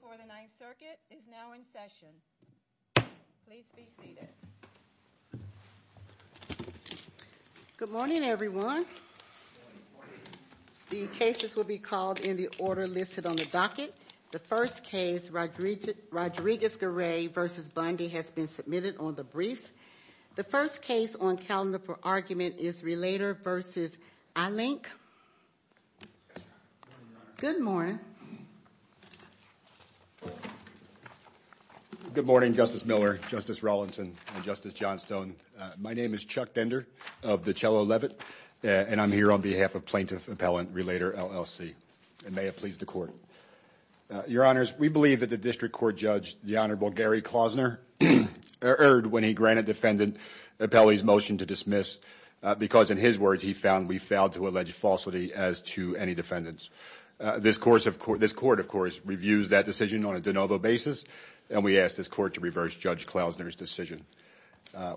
for the Ninth Circuit is now in session. Please be seated. Good morning, everyone. The cases will be called in the order listed on the docket. The first case, Rodriguez-Garay v. Bundy, has been submitted on the briefs. The first case on calendar for argument is Relator v. iLink. Good morning, Your Honor. Good morning. Good morning, Justice Miller, Justice Rawlinson, and Justice Johnstone. My name is Chuck Dender of the Cello Levitt, and I'm here on behalf of Plaintiff Appellant Relator, LLC. And may it please the Court. Your Honors, we believe that the District Court judge, the Honorable Gary Klausner, erred when he granted Defendant Appellee's motion to dismiss because, in his words, he found we failed to allege falsity as to any defendants. This Court, of course, reviews that decision on a de novo basis, and we ask this Court to reverse Judge Klausner's decision.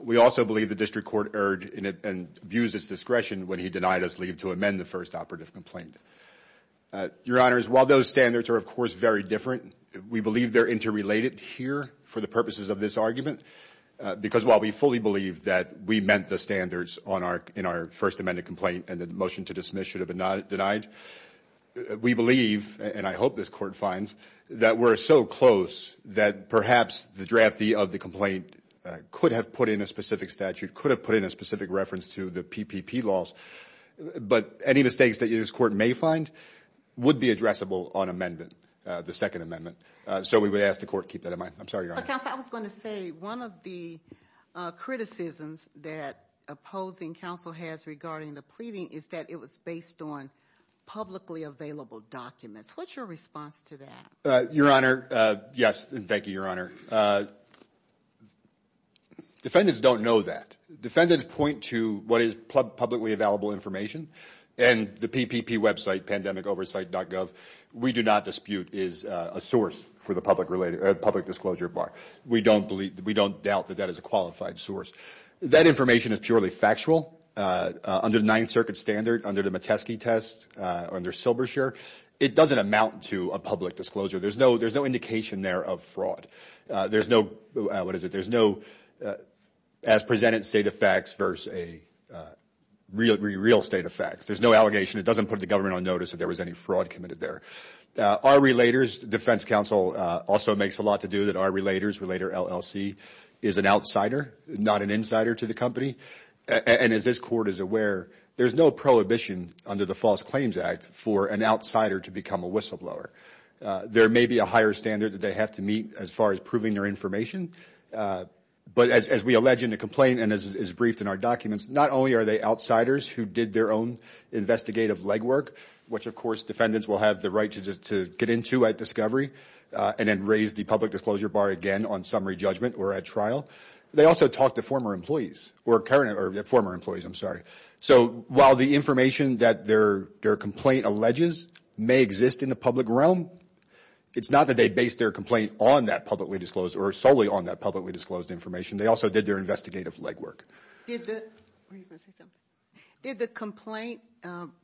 We also believe the District Court erred and abused its discretion when he denied us leave to amend the first operative complaint. Your Honors, while those standards are, of course, very different, we believe they're interrelated here for the purposes of this argument because while we fully believe that we meant the standards in our first amended complaint and that the motion to dismiss should have been denied, we believe, and I hope this Court finds, that we're so close that perhaps the draftee of the complaint could have put in a specific statute, could have put in a specific reference to the PPP laws, but any mistakes that this Court may find would be addressable on amendment, the second amendment. So we would ask the Court to keep that in mind. I'm sorry, Your Honor. Counsel, I was going to say one of the criticisms that opposing counsel has regarding the pleading is that it was based on publicly available documents. What's your response to that? Your Honor, yes, and thank you, Your Honor. Defendants don't know that. Defendants point to what is publicly available information, and the PPP website, pandemicoversight.gov, we do not dispute is a source for the public disclosure bar. We don't doubt that that is a qualified source. That information is purely factual. Under the Ninth Circuit standard, under the Metesky test, under Silberscher, it doesn't amount to a public disclosure. There's no indication there of fraud. There's no, what is it, there's no as presented state of facts versus a real state of facts. There's no allegation. It doesn't put the government on notice that there was any fraud committed there. Our relators, defense counsel also makes a lot to do that our relators, Relator LLC, is an outsider, not an insider to the company, and as this Court is aware, there's no prohibition under the False Claims Act for an outsider to become a whistleblower. There may be a higher standard that they have to meet as far as proving their information, but as we allege in the complaint and as is briefed in our documents, not only are they outsiders who did their own investigative legwork, which, of course, defendants will have the right to get into at discovery and then raise the public disclosure bar again on summary judgment or at trial. They also talked to former employees, or current, or former employees, I'm sorry. So while the information that their complaint alleges may exist in the public realm, it's not that they based their complaint on that publicly disclosed or solely on that publicly disclosed information. They also did their investigative legwork. Did the complaint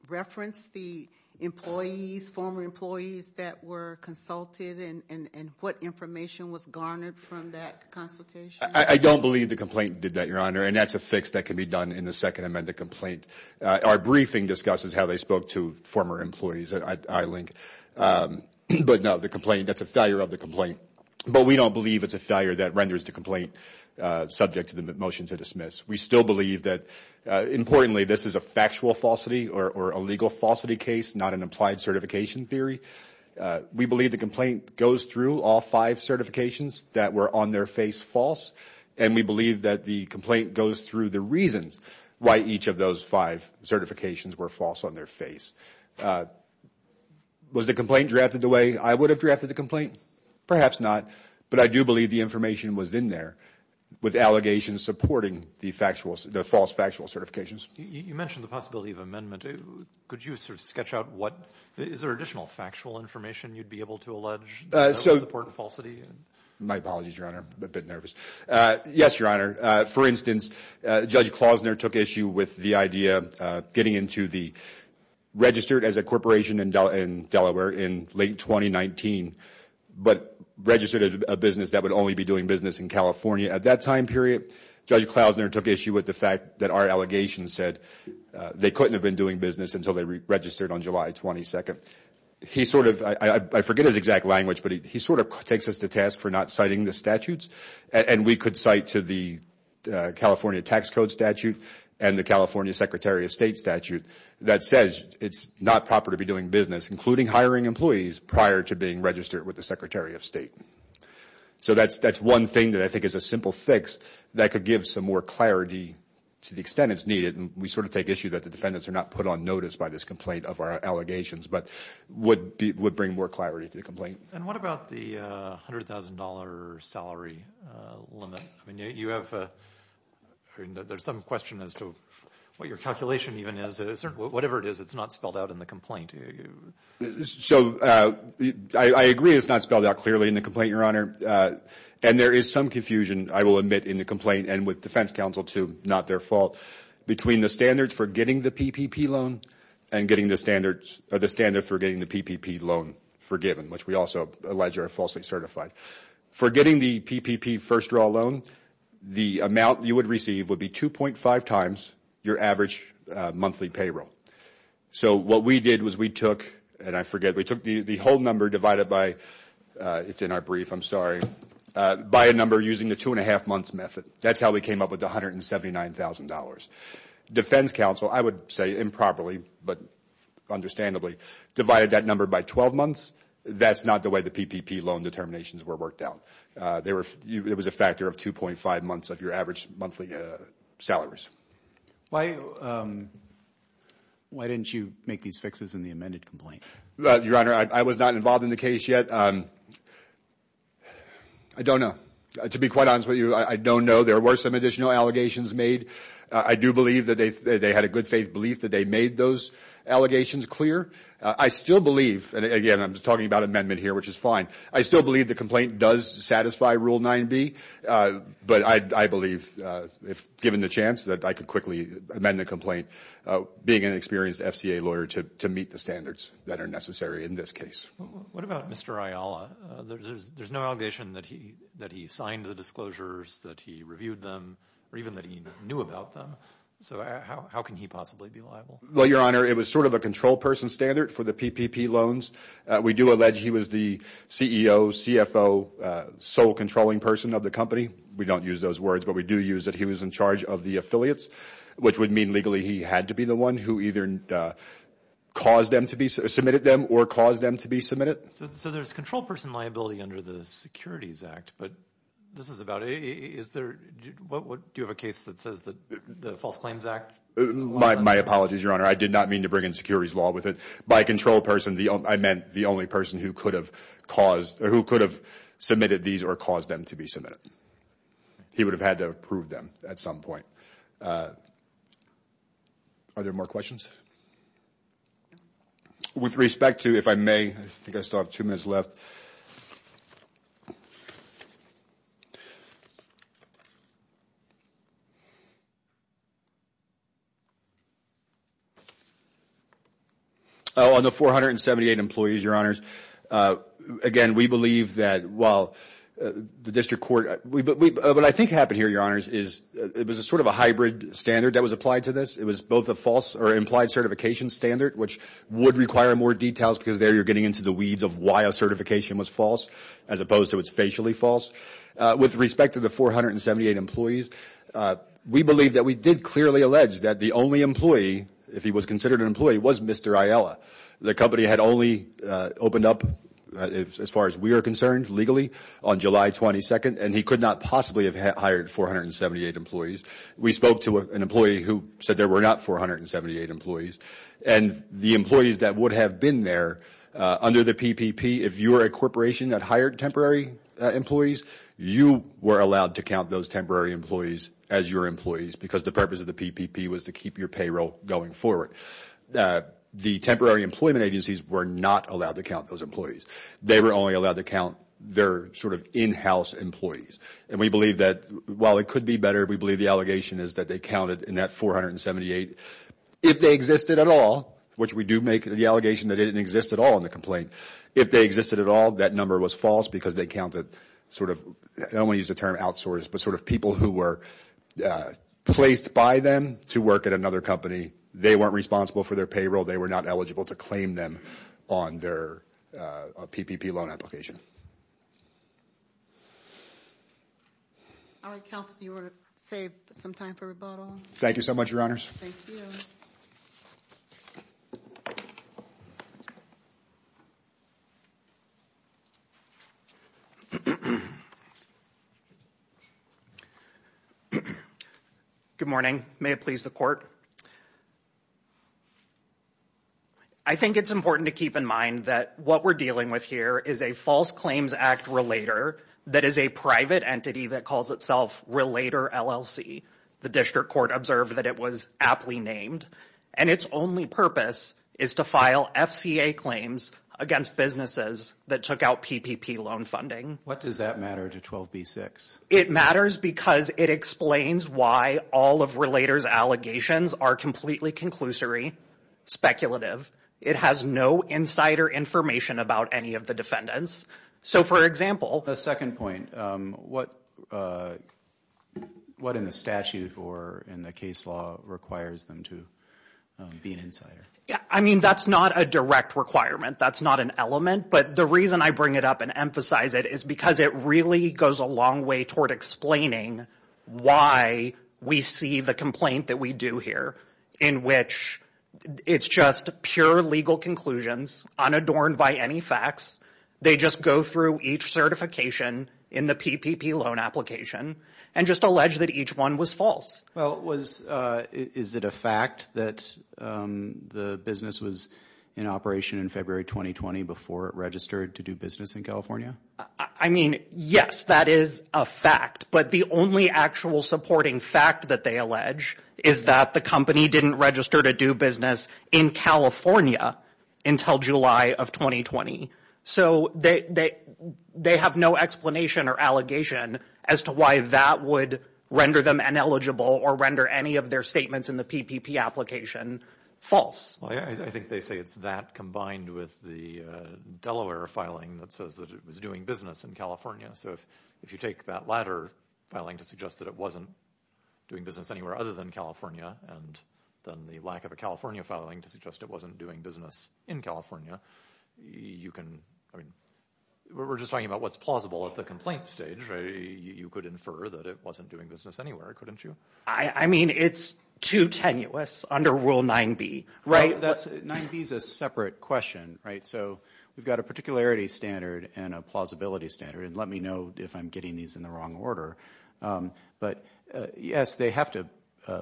reference the employees, former employees, that were consulted and what information was garnered from that consultation? I don't believe the complaint did that, Your Honor, and that's a fix that can be done in the Second Amendment complaint. Our briefing discusses how they spoke to former employees at iLink, but no, the complaint, that's a failure of the complaint, but we don't believe it's a failure that renders the complaint subject to the motion to dismiss. We still believe that, importantly, this is a factual falsity or a legal falsity case, not an applied certification theory. We believe the complaint goes through all five certifications that were on their face false, and we believe that the complaint goes through the reasons why each of those five certifications were false on their face. Was the complaint drafted the way I would have drafted the complaint? Perhaps not, but I do believe the information was in there with allegations supporting the false factual certifications. You mentioned the possibility of amendment. Could you sort of sketch out what— is there additional factual information you'd be able to allege to support the falsity? My apologies, Your Honor. I'm a bit nervous. Yes, Your Honor. For instance, Judge Klausner took issue with the idea of getting into the— registered as a corporation in Delaware in late 2019, but registered a business that would only be doing business in California at that time period. Judge Klausner took issue with the fact that our allegation said they couldn't have been doing business until they registered on July 22nd. He sort of—I forget his exact language, but he sort of takes us to task for not citing the statutes, and we could cite to the California Tax Code statute and the California Secretary of State statute that says it's not proper to be doing business, including hiring employees, prior to being registered with the Secretary of State. So that's one thing that I think is a simple fix that could give some more clarity to the extent it's needed, and we sort of take issue that the defendants are not put on notice by this complaint of our allegations, but would bring more clarity to the complaint. And what about the $100,000 salary limit? I mean, you have—there's some question as to what your calculation even is. Whatever it is, it's not spelled out in the complaint. So I agree it's not spelled out clearly in the complaint, Your Honor, and there is some confusion, I will admit, in the complaint and with defense counsel too, not their fault, between the standards for getting the PPP loan and getting the standards— or the standard for getting the PPP loan forgiven, which we also allege are falsely certified. For getting the PPP first-draw loan, the amount you would receive would be 2.5 times your average monthly payroll. So what we did was we took—and I forget—we took the whole number divided by—it's in our brief, I'm sorry— by a number using the two-and-a-half-months method. That's how we came up with the $179,000. Defense counsel, I would say improperly, but understandably, divided that number by 12 months. That's not the way the PPP loan determinations were worked out. It was a factor of 2.5 months of your average monthly salaries. Why didn't you make these fixes in the amended complaint? Your Honor, I was not involved in the case yet. I don't know. To be quite honest with you, I don't know. There were some additional allegations made. I do believe that they had a good faith belief that they made those allegations clear. I still believe—and, again, I'm talking about amendment here, which is fine. I still believe the complaint does satisfy Rule 9b. But I believe, if given the chance, that I could quickly amend the complaint, being an experienced FCA lawyer, to meet the standards that are necessary in this case. What about Mr. Ayala? There's no allegation that he signed the disclosures, that he reviewed them, or even that he knew about them. So how can he possibly be liable? Well, Your Honor, it was sort of a control person standard for the PPP loans. We do allege he was the CEO, CFO, sole controlling person of the company. We don't use those words, but we do use that he was in charge of the affiliates, which would mean legally he had to be the one who either caused them to be—submitted them or caused them to be submitted. So there's control person liability under the Securities Act. But this is about—is there—do you have a case that says the False Claims Act— My apologies, Your Honor. I did not mean to bring in securities law with it. By control person, I meant the only person who could have caused— who could have submitted these or caused them to be submitted. He would have had to approve them at some point. Are there more questions? With respect to, if I may, I think I still have two minutes left. On the 478 employees, Your Honors, again, we believe that while the district court— what I think happened here, Your Honors, is it was sort of a hybrid standard that was applied to this. It was both a false or implied certification standard, which would require more details because there you're getting into the weeds of why a certification was false as opposed to it's facially false. With respect to the 478 employees, we believe that we did clearly allege that the only employee, if he was considered an employee, was Mr. Aiella. The company had only opened up, as far as we are concerned, legally on July 22nd, and he could not possibly have hired 478 employees. We spoke to an employee who said there were not 478 employees. And the employees that would have been there under the PPP, if you were a corporation that hired temporary employees, you were allowed to count those temporary employees as your employees because the purpose of the PPP was to keep your payroll going forward. The temporary employment agencies were not allowed to count those employees. They were only allowed to count their sort of in-house employees. And we believe that, while it could be better, we believe the allegation is that they counted in that 478. If they existed at all, which we do make the allegation that it didn't exist at all in the complaint, if they existed at all, that number was false because they counted sort of, I don't want to use the term outsourced, but sort of people who were placed by them to work at another company. They weren't responsible for their payroll. They were not eligible to claim them on their PPP loan application. All right, Kelsey, you want to save some time for rebuttal? Thank you so much, Your Honors. Thank you. Good morning. May it please the court. I think it's important to keep in mind that what we're dealing with here is a False Claims Act Relator that is a private entity that calls itself Relator LLC. The district court observed that it was aptly named, and its only purpose is to file FCA claims against businesses that took out PPP loan funding. What does that matter to 12b-6? It matters because it explains why all of Relator's allegations are completely conclusory, speculative. It has no insider information about any of the defendants. So, for example. The second point, what in the statute or in the case law requires them to be an insider? I mean, that's not a direct requirement. That's not an element, but the reason I bring it up and emphasize it is because it really goes a long way toward explaining why we see the complaint that we do here in which it's just pure legal conclusions unadorned by any facts. They just go through each certification in the PPP loan application and just allege that each one was false. Well, is it a fact that the business was in operation in February 2020 before it registered to do business in California? I mean, yes, that is a fact, but the only actual supporting fact that they allege is that the company didn't register to do business in California until July of 2020. So, they have no explanation or allegation as to why that would render them ineligible or render any of their statements in the PPP application false. I think they say it's that combined with the Delaware filing that says that it was doing business in California. So, if you take that latter filing to suggest that it wasn't doing business anywhere other than California and then the lack of a California filing to suggest it wasn't doing business in California, you can, I mean, we're just talking about what's plausible at the complaint stage. You could infer that it wasn't doing business anywhere, couldn't you? I mean, it's too tenuous under Rule 9b, right? 9b is a separate question, right? So, we've got a particularity standard and a plausibility standard, and let me know if I'm getting these in the wrong order. But, yes, they have to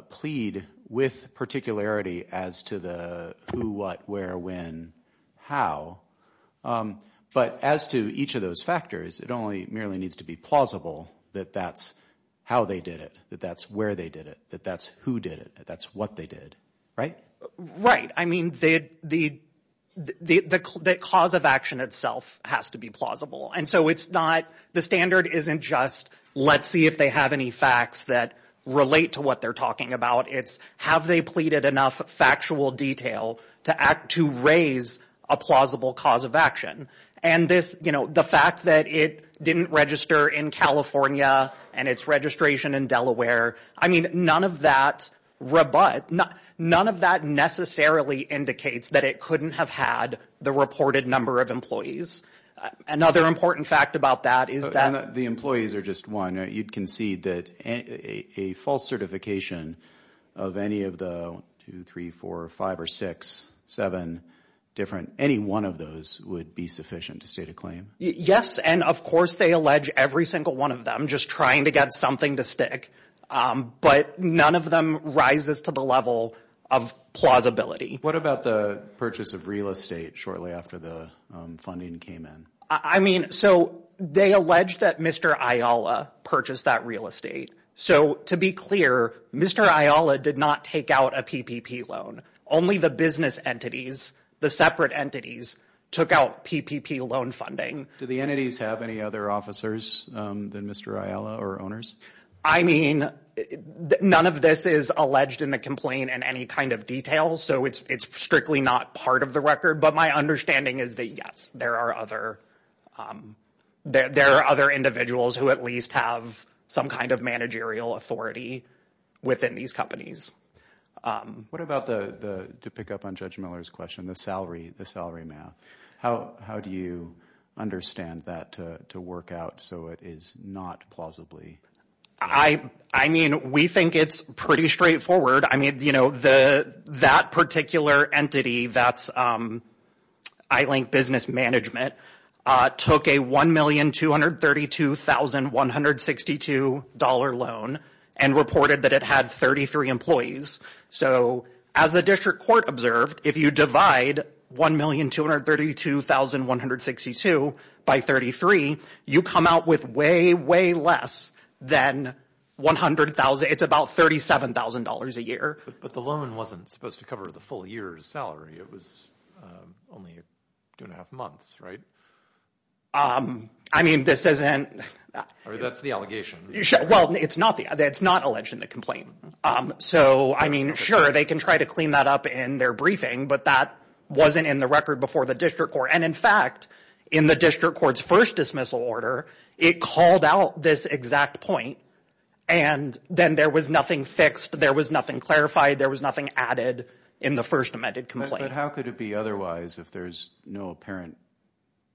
plead with particularity as to the who, what, where, when, how. But as to each of those factors, it only merely needs to be plausible that that's how they did it, that that's where they did it, that that's who did it, that that's what they did, right? Right. I mean, the cause of action itself has to be plausible. And so it's not, the standard isn't just let's see if they have any facts that relate to what they're talking about. It's have they pleaded enough factual detail to raise a plausible cause of action. And this, you know, the fact that it didn't register in California and its registration in Delaware, I mean, none of that, none of that necessarily indicates that it couldn't have had the reported number of employees. Another important fact about that is that. The employees are just one. You'd concede that a false certification of any of the one, two, three, four, five, or six, seven different, any one of those would be sufficient to state a claim. Yes. And of course, they allege every single one of them just trying to get something to stick. But none of them rises to the level of plausibility. What about the purchase of real estate shortly after the funding came in? I mean, so they allege that Mr. Ayala purchased that real estate. So to be clear, Mr. Ayala did not take out a PPP loan. Only the business entities, the separate entities, took out PPP loan funding. Do the entities have any other officers than Mr. Ayala or owners? I mean, none of this is alleged in the complaint in any kind of detail. So it's strictly not part of the record. But my understanding is that, yes, there are other individuals who at least have some kind of managerial authority within these companies. What about, to pick up on Judge Miller's question, the salary math? How do you understand that to work out so it is not plausibly? I mean, we think it's pretty straightforward. I mean, you know, that particular entity, that's I-Link Business Management, took a $1,232,162 loan and reported that it had 33 employees. So as the district court observed, if you divide $1,232,162 by 33, you come out with way, way less than $100,000. It's about $37,000 a year. But the loan wasn't supposed to cover the full year's salary. It was only two and a half months, right? I mean, this isn't. That's the allegation. Well, it's not alleged in the complaint. So, I mean, sure, they can try to clean that up in their briefing. But that wasn't in the record before the district court. And, in fact, in the district court's first dismissal order, it called out this exact point. And then there was nothing fixed. There was nothing clarified. There was nothing added in the first amended complaint. But how could it be otherwise if there's no apparent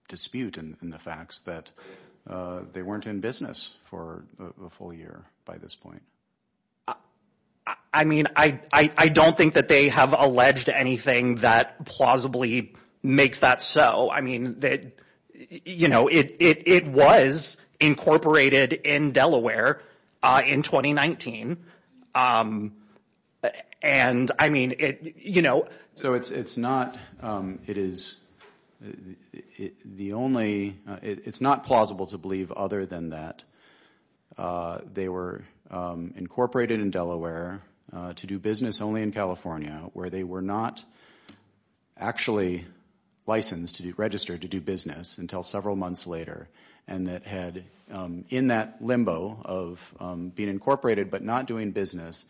dispute in the facts that they weren't in business for a full year by this point? I mean, I don't think that they have alleged anything that plausibly makes that so. I mean, you know, it was incorporated in Delaware in 2019. And, I mean, you know. So it's not. It is the only. It's not plausible to believe other than that they were incorporated in Delaware to do business only in California, where they were not actually licensed to register to do business until several months later, and that had, in that limbo of being incorporated but not doing business,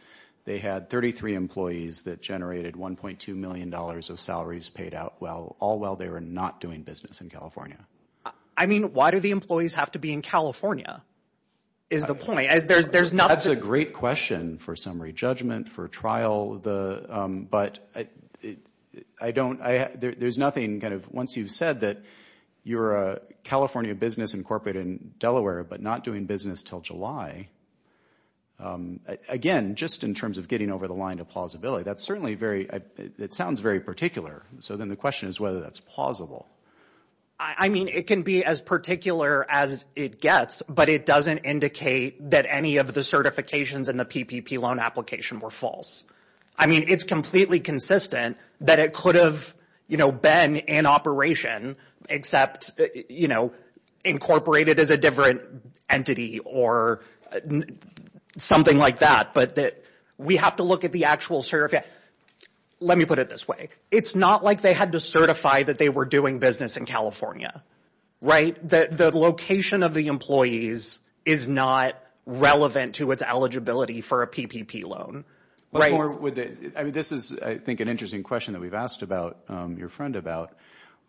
they had 33 employees that generated $1.2 million of salaries paid out all while they were not doing business in California. I mean, why do the employees have to be in California is the point. There's nothing. That's a great question for summary judgment, for trial. But I don't. There's nothing. Once you've said that you're a California business incorporated in Delaware but not doing business until July. Again, just in terms of getting over the line of plausibility, that's certainly very. It sounds very particular. So then the question is whether that's plausible. I mean, it can be as particular as it gets, but it doesn't indicate that any of the certifications in the PPP loan application were false. I mean, it's completely consistent that it could have, you know, been in operation, except, you know, incorporated as a different entity or something like that, but that we have to look at the actual certificate. Let me put it this way. It's not like they had to certify that they were doing business in California. Right. The location of the employees is not relevant to its eligibility for a PPP loan. Right. I mean, this is, I think, an interesting question that we've asked about your friend about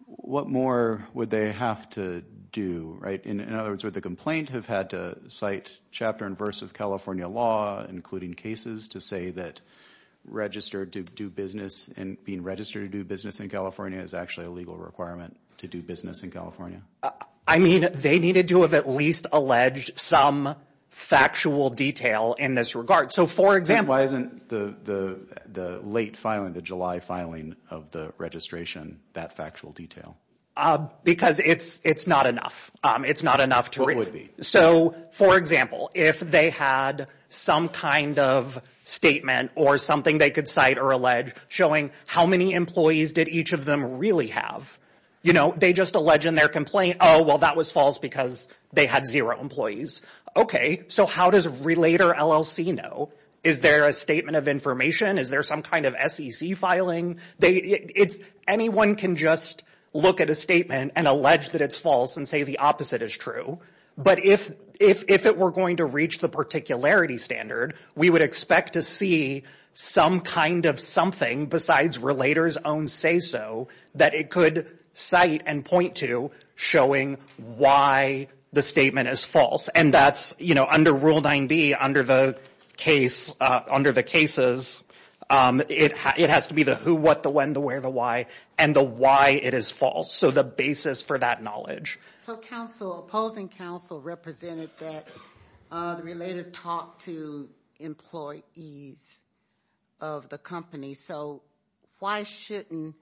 what more would they have to do. Right. In other words, would the complaint have had to cite chapter and verse of California law, including cases, to say that registered to do business and being registered to do business in California is actually a legal requirement to do business in California? I mean, they needed to have at least alleged some factual detail in this regard. So, for example. Why isn't the late filing, the July filing of the registration, that factual detail? Because it's not enough. It's not enough to really. So, for example, if they had some kind of statement or something they could cite or allege showing how many employees did each of them really have, you know, they just allege in their complaint, oh, well, that was false because they had zero employees. Okay. So how does Relator LLC know? Is there a statement of information? Is there some kind of SEC filing? Anyone can just look at a statement and allege that it's false and say the opposite is true. But if it were going to reach the particularity standard, we would expect to see some kind of something besides Relator's own say so that it could cite and point to showing why the statement is false. And that's, you know, under Rule 9B, under the cases, it has to be the who, what, the when, the where, the why, and the why it is false. So the basis for that knowledge. So opposing counsel represented that the Relator talked to employees of the company. So why shouldn't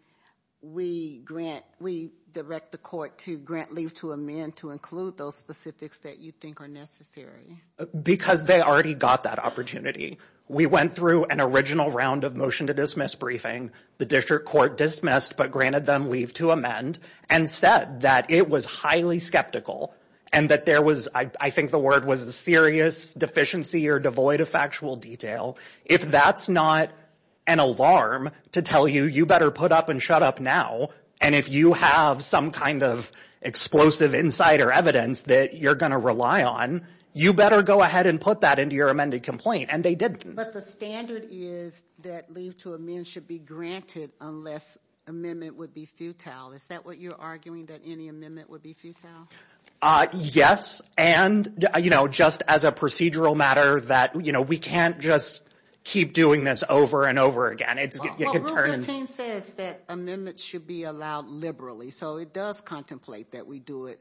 we grant, we direct the court to grant leave to amend to include those specifics that you think are necessary? Because they already got that opportunity. We went through an original round of motion to dismiss briefing. The district court dismissed but granted them leave to amend and said that it was highly skeptical and that there was, I think the word was a serious deficiency or devoid of factual detail. If that's not an alarm to tell you, you better put up and shut up now. And if you have some kind of explosive insider evidence that you're going to rely on, you better go ahead and put that into your amended complaint. And they did. But the standard is that leave to amend should be granted unless amendment would be futile. Is that what you're arguing, that any amendment would be futile? Yes. And, you know, just as a procedural matter that, you know, we can't just keep doing this over and over again. Rule 15 says that amendments should be allowed liberally. So it does contemplate that we do it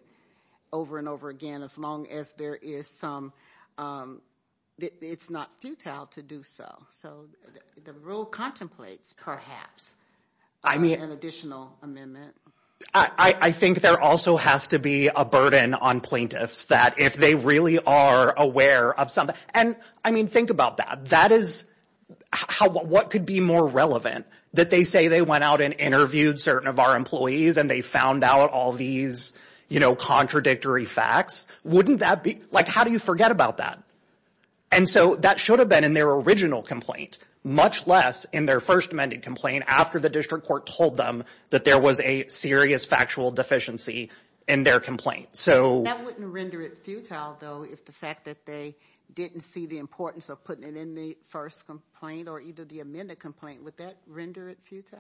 over and over again as long as there is some, it's not futile to do so. So the rule contemplates perhaps an additional amendment. I think there also has to be a burden on plaintiffs that if they really are aware of something. And, I mean, think about that. That is, what could be more relevant that they say they went out and interviewed certain of our employees and they found out all these, you know, contradictory facts? Wouldn't that be, like, how do you forget about that? And so that should have been in their original complaint, much less in their first amended complaint after the district court told them that there was a serious factual deficiency in their complaint. That wouldn't render it futile, though, if the fact that they didn't see the importance of putting it in the first complaint or either the amended complaint, would that render it futile?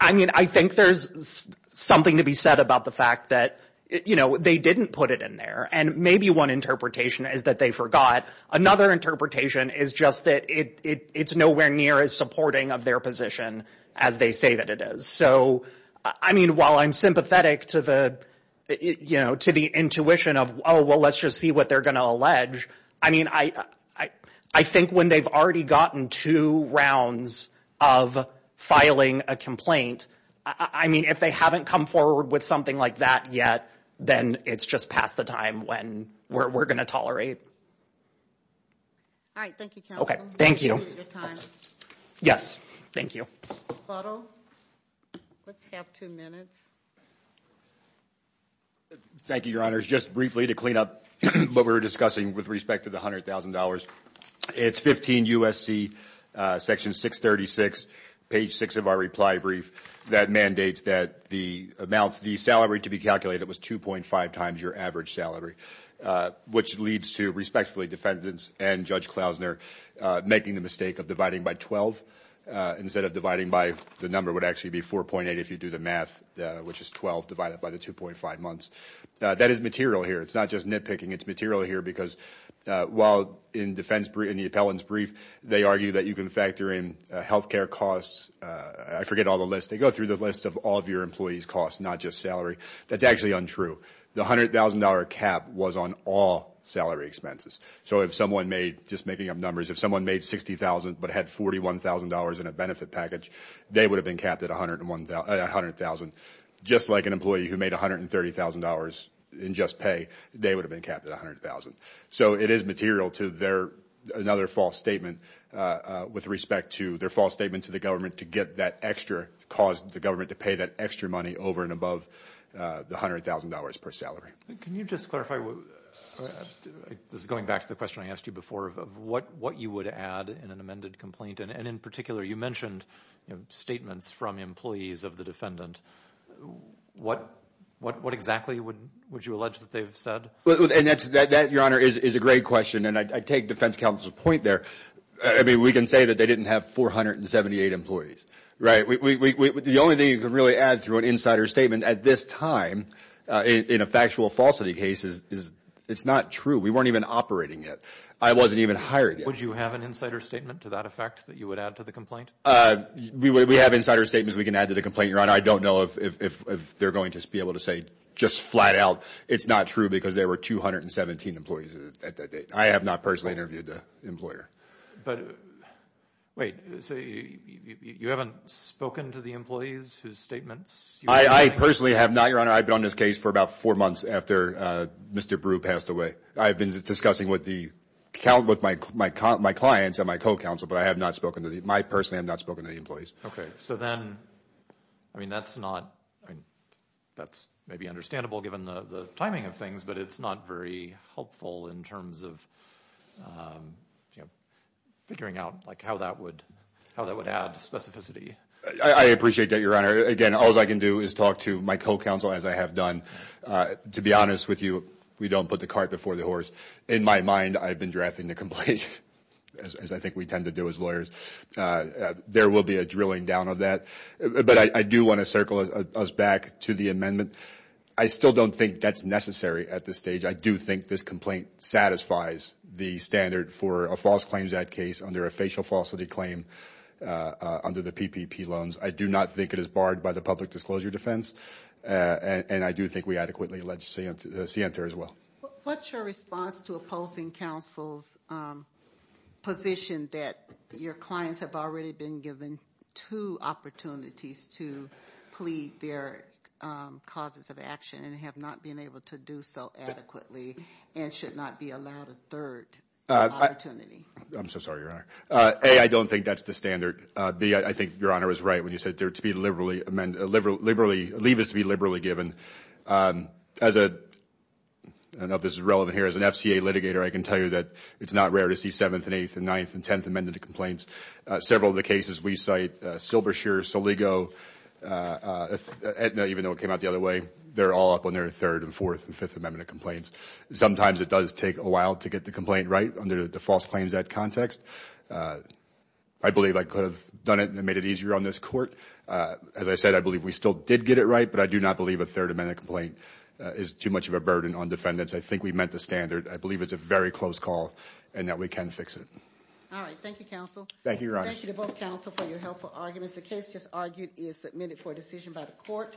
I mean, I think there's something to be said about the fact that, you know, they didn't put it in there. And maybe one interpretation is that they forgot. Another interpretation is just that it's nowhere near as supporting of their position as they say that it is. So, I mean, while I'm sympathetic to the, you know, to the intuition of, oh, well, let's just see what they're going to allege. I mean, I think when they've already gotten two rounds of filing a complaint, I mean, if they haven't come forward with something like that yet, then it's just past the time when we're going to tolerate. All right. Thank you. OK, thank you. Yes. Thank you. Let's have two minutes. Thank you, Your Honors. Just briefly to clean up what we were discussing with respect to the $100,000. It's 15 U.S.C. Section 636, page six of our reply brief that mandates that the amounts, the salary to be calculated was 2.5 times your average salary, which leads to respectfully defendants and Judge Klausner making the mistake of dividing by 12 instead of dividing by, the number would actually be 4.8 if you do the math, which is 12 divided by the 2.5 months. That is material here. It's not just nitpicking. It's material here because while in defense, in the appellant's brief, they argue that you can factor in health care costs. I forget all the lists. They go through the list of all of your employees' costs, not just salary. That's actually untrue. The $100,000 cap was on all salary expenses. So if someone made, just making up numbers, if someone made $60,000 but had $41,000 in a benefit package, they would have been capped at $100,000. Just like an employee who made $130,000 in just pay, they would have been capped at $100,000. So it is material to another false statement with respect to their false statement to the government to get that extra, cause the government to pay that extra money over and above the $100,000 per salary. Can you just clarify, this is going back to the question I asked you before, of what you would add in an amended complaint? And in particular, you mentioned statements from employees of the defendant. What exactly would you allege that they've said? And that, Your Honor, is a great question, and I take defense counsel's point there. I mean, we can say that they didn't have 478 employees, right? The only thing you can really add through an insider statement at this time in a factual falsity case is it's not true. We weren't even operating it. I wasn't even hired yet. Would you have an insider statement to that effect that you would add to the complaint? We have insider statements we can add to the complaint, Your Honor. I don't know if they're going to be able to say just flat out it's not true because there were 217 employees at that date. I have not personally interviewed the employer. But, wait, so you haven't spoken to the employees whose statements you're adding? I personally have not, Your Honor. I've been on this case for about four months after Mr. Brew passed away. I've been discussing with my clients and my co-counsel, but I have not spoken to the employees. I personally have not spoken to the employees. So then, I mean, that's maybe understandable given the timing of things, but it's not very helpful in terms of figuring out how that would add specificity. I appreciate that, Your Honor. Again, all I can do is talk to my co-counsel, as I have done. To be honest with you, we don't put the cart before the horse. In my mind, I've been drafting the complaint, as I think we tend to do as lawyers. There will be a drilling down of that, but I do want to circle us back to the amendment. I still don't think that's necessary at this stage. I do think this complaint satisfies the standard for a false claims act case under a facial falsity claim under the PPP loans. I do not think it is barred by the public disclosure defense, and I do think we adequately allege scienter as well. What's your response to opposing counsel's position that your clients have already been given two opportunities to plead their causes of action and have not been able to do so adequately and should not be allowed a third opportunity? I'm so sorry, Your Honor. A, I don't think that's the standard. B, I think Your Honor was right when you said leave is to be liberally given. As an FCA litigator, I can tell you that it's not rare to see 7th and 8th and 9th and 10th amended complaints. Several of the cases we cite, Silbershear, Soligo, Aetna, even though it came out the other way, they're all up on their 3rd and 4th and 5th amendment complaints. Sometimes it does take a while to get the complaint right under the false claims act context. I believe I could have done it and made it easier on this court. As I said, I believe we still did get it right, but I do not believe a 3rd amendment complaint is too much of a burden on defendants. I think we met the standard. I believe it's a very close call and that we can fix it. All right. Thank you, counsel. Thank you, Your Honor. Thank you to both counsel for your helpful arguments. The case just argued is submitted for decision by the court.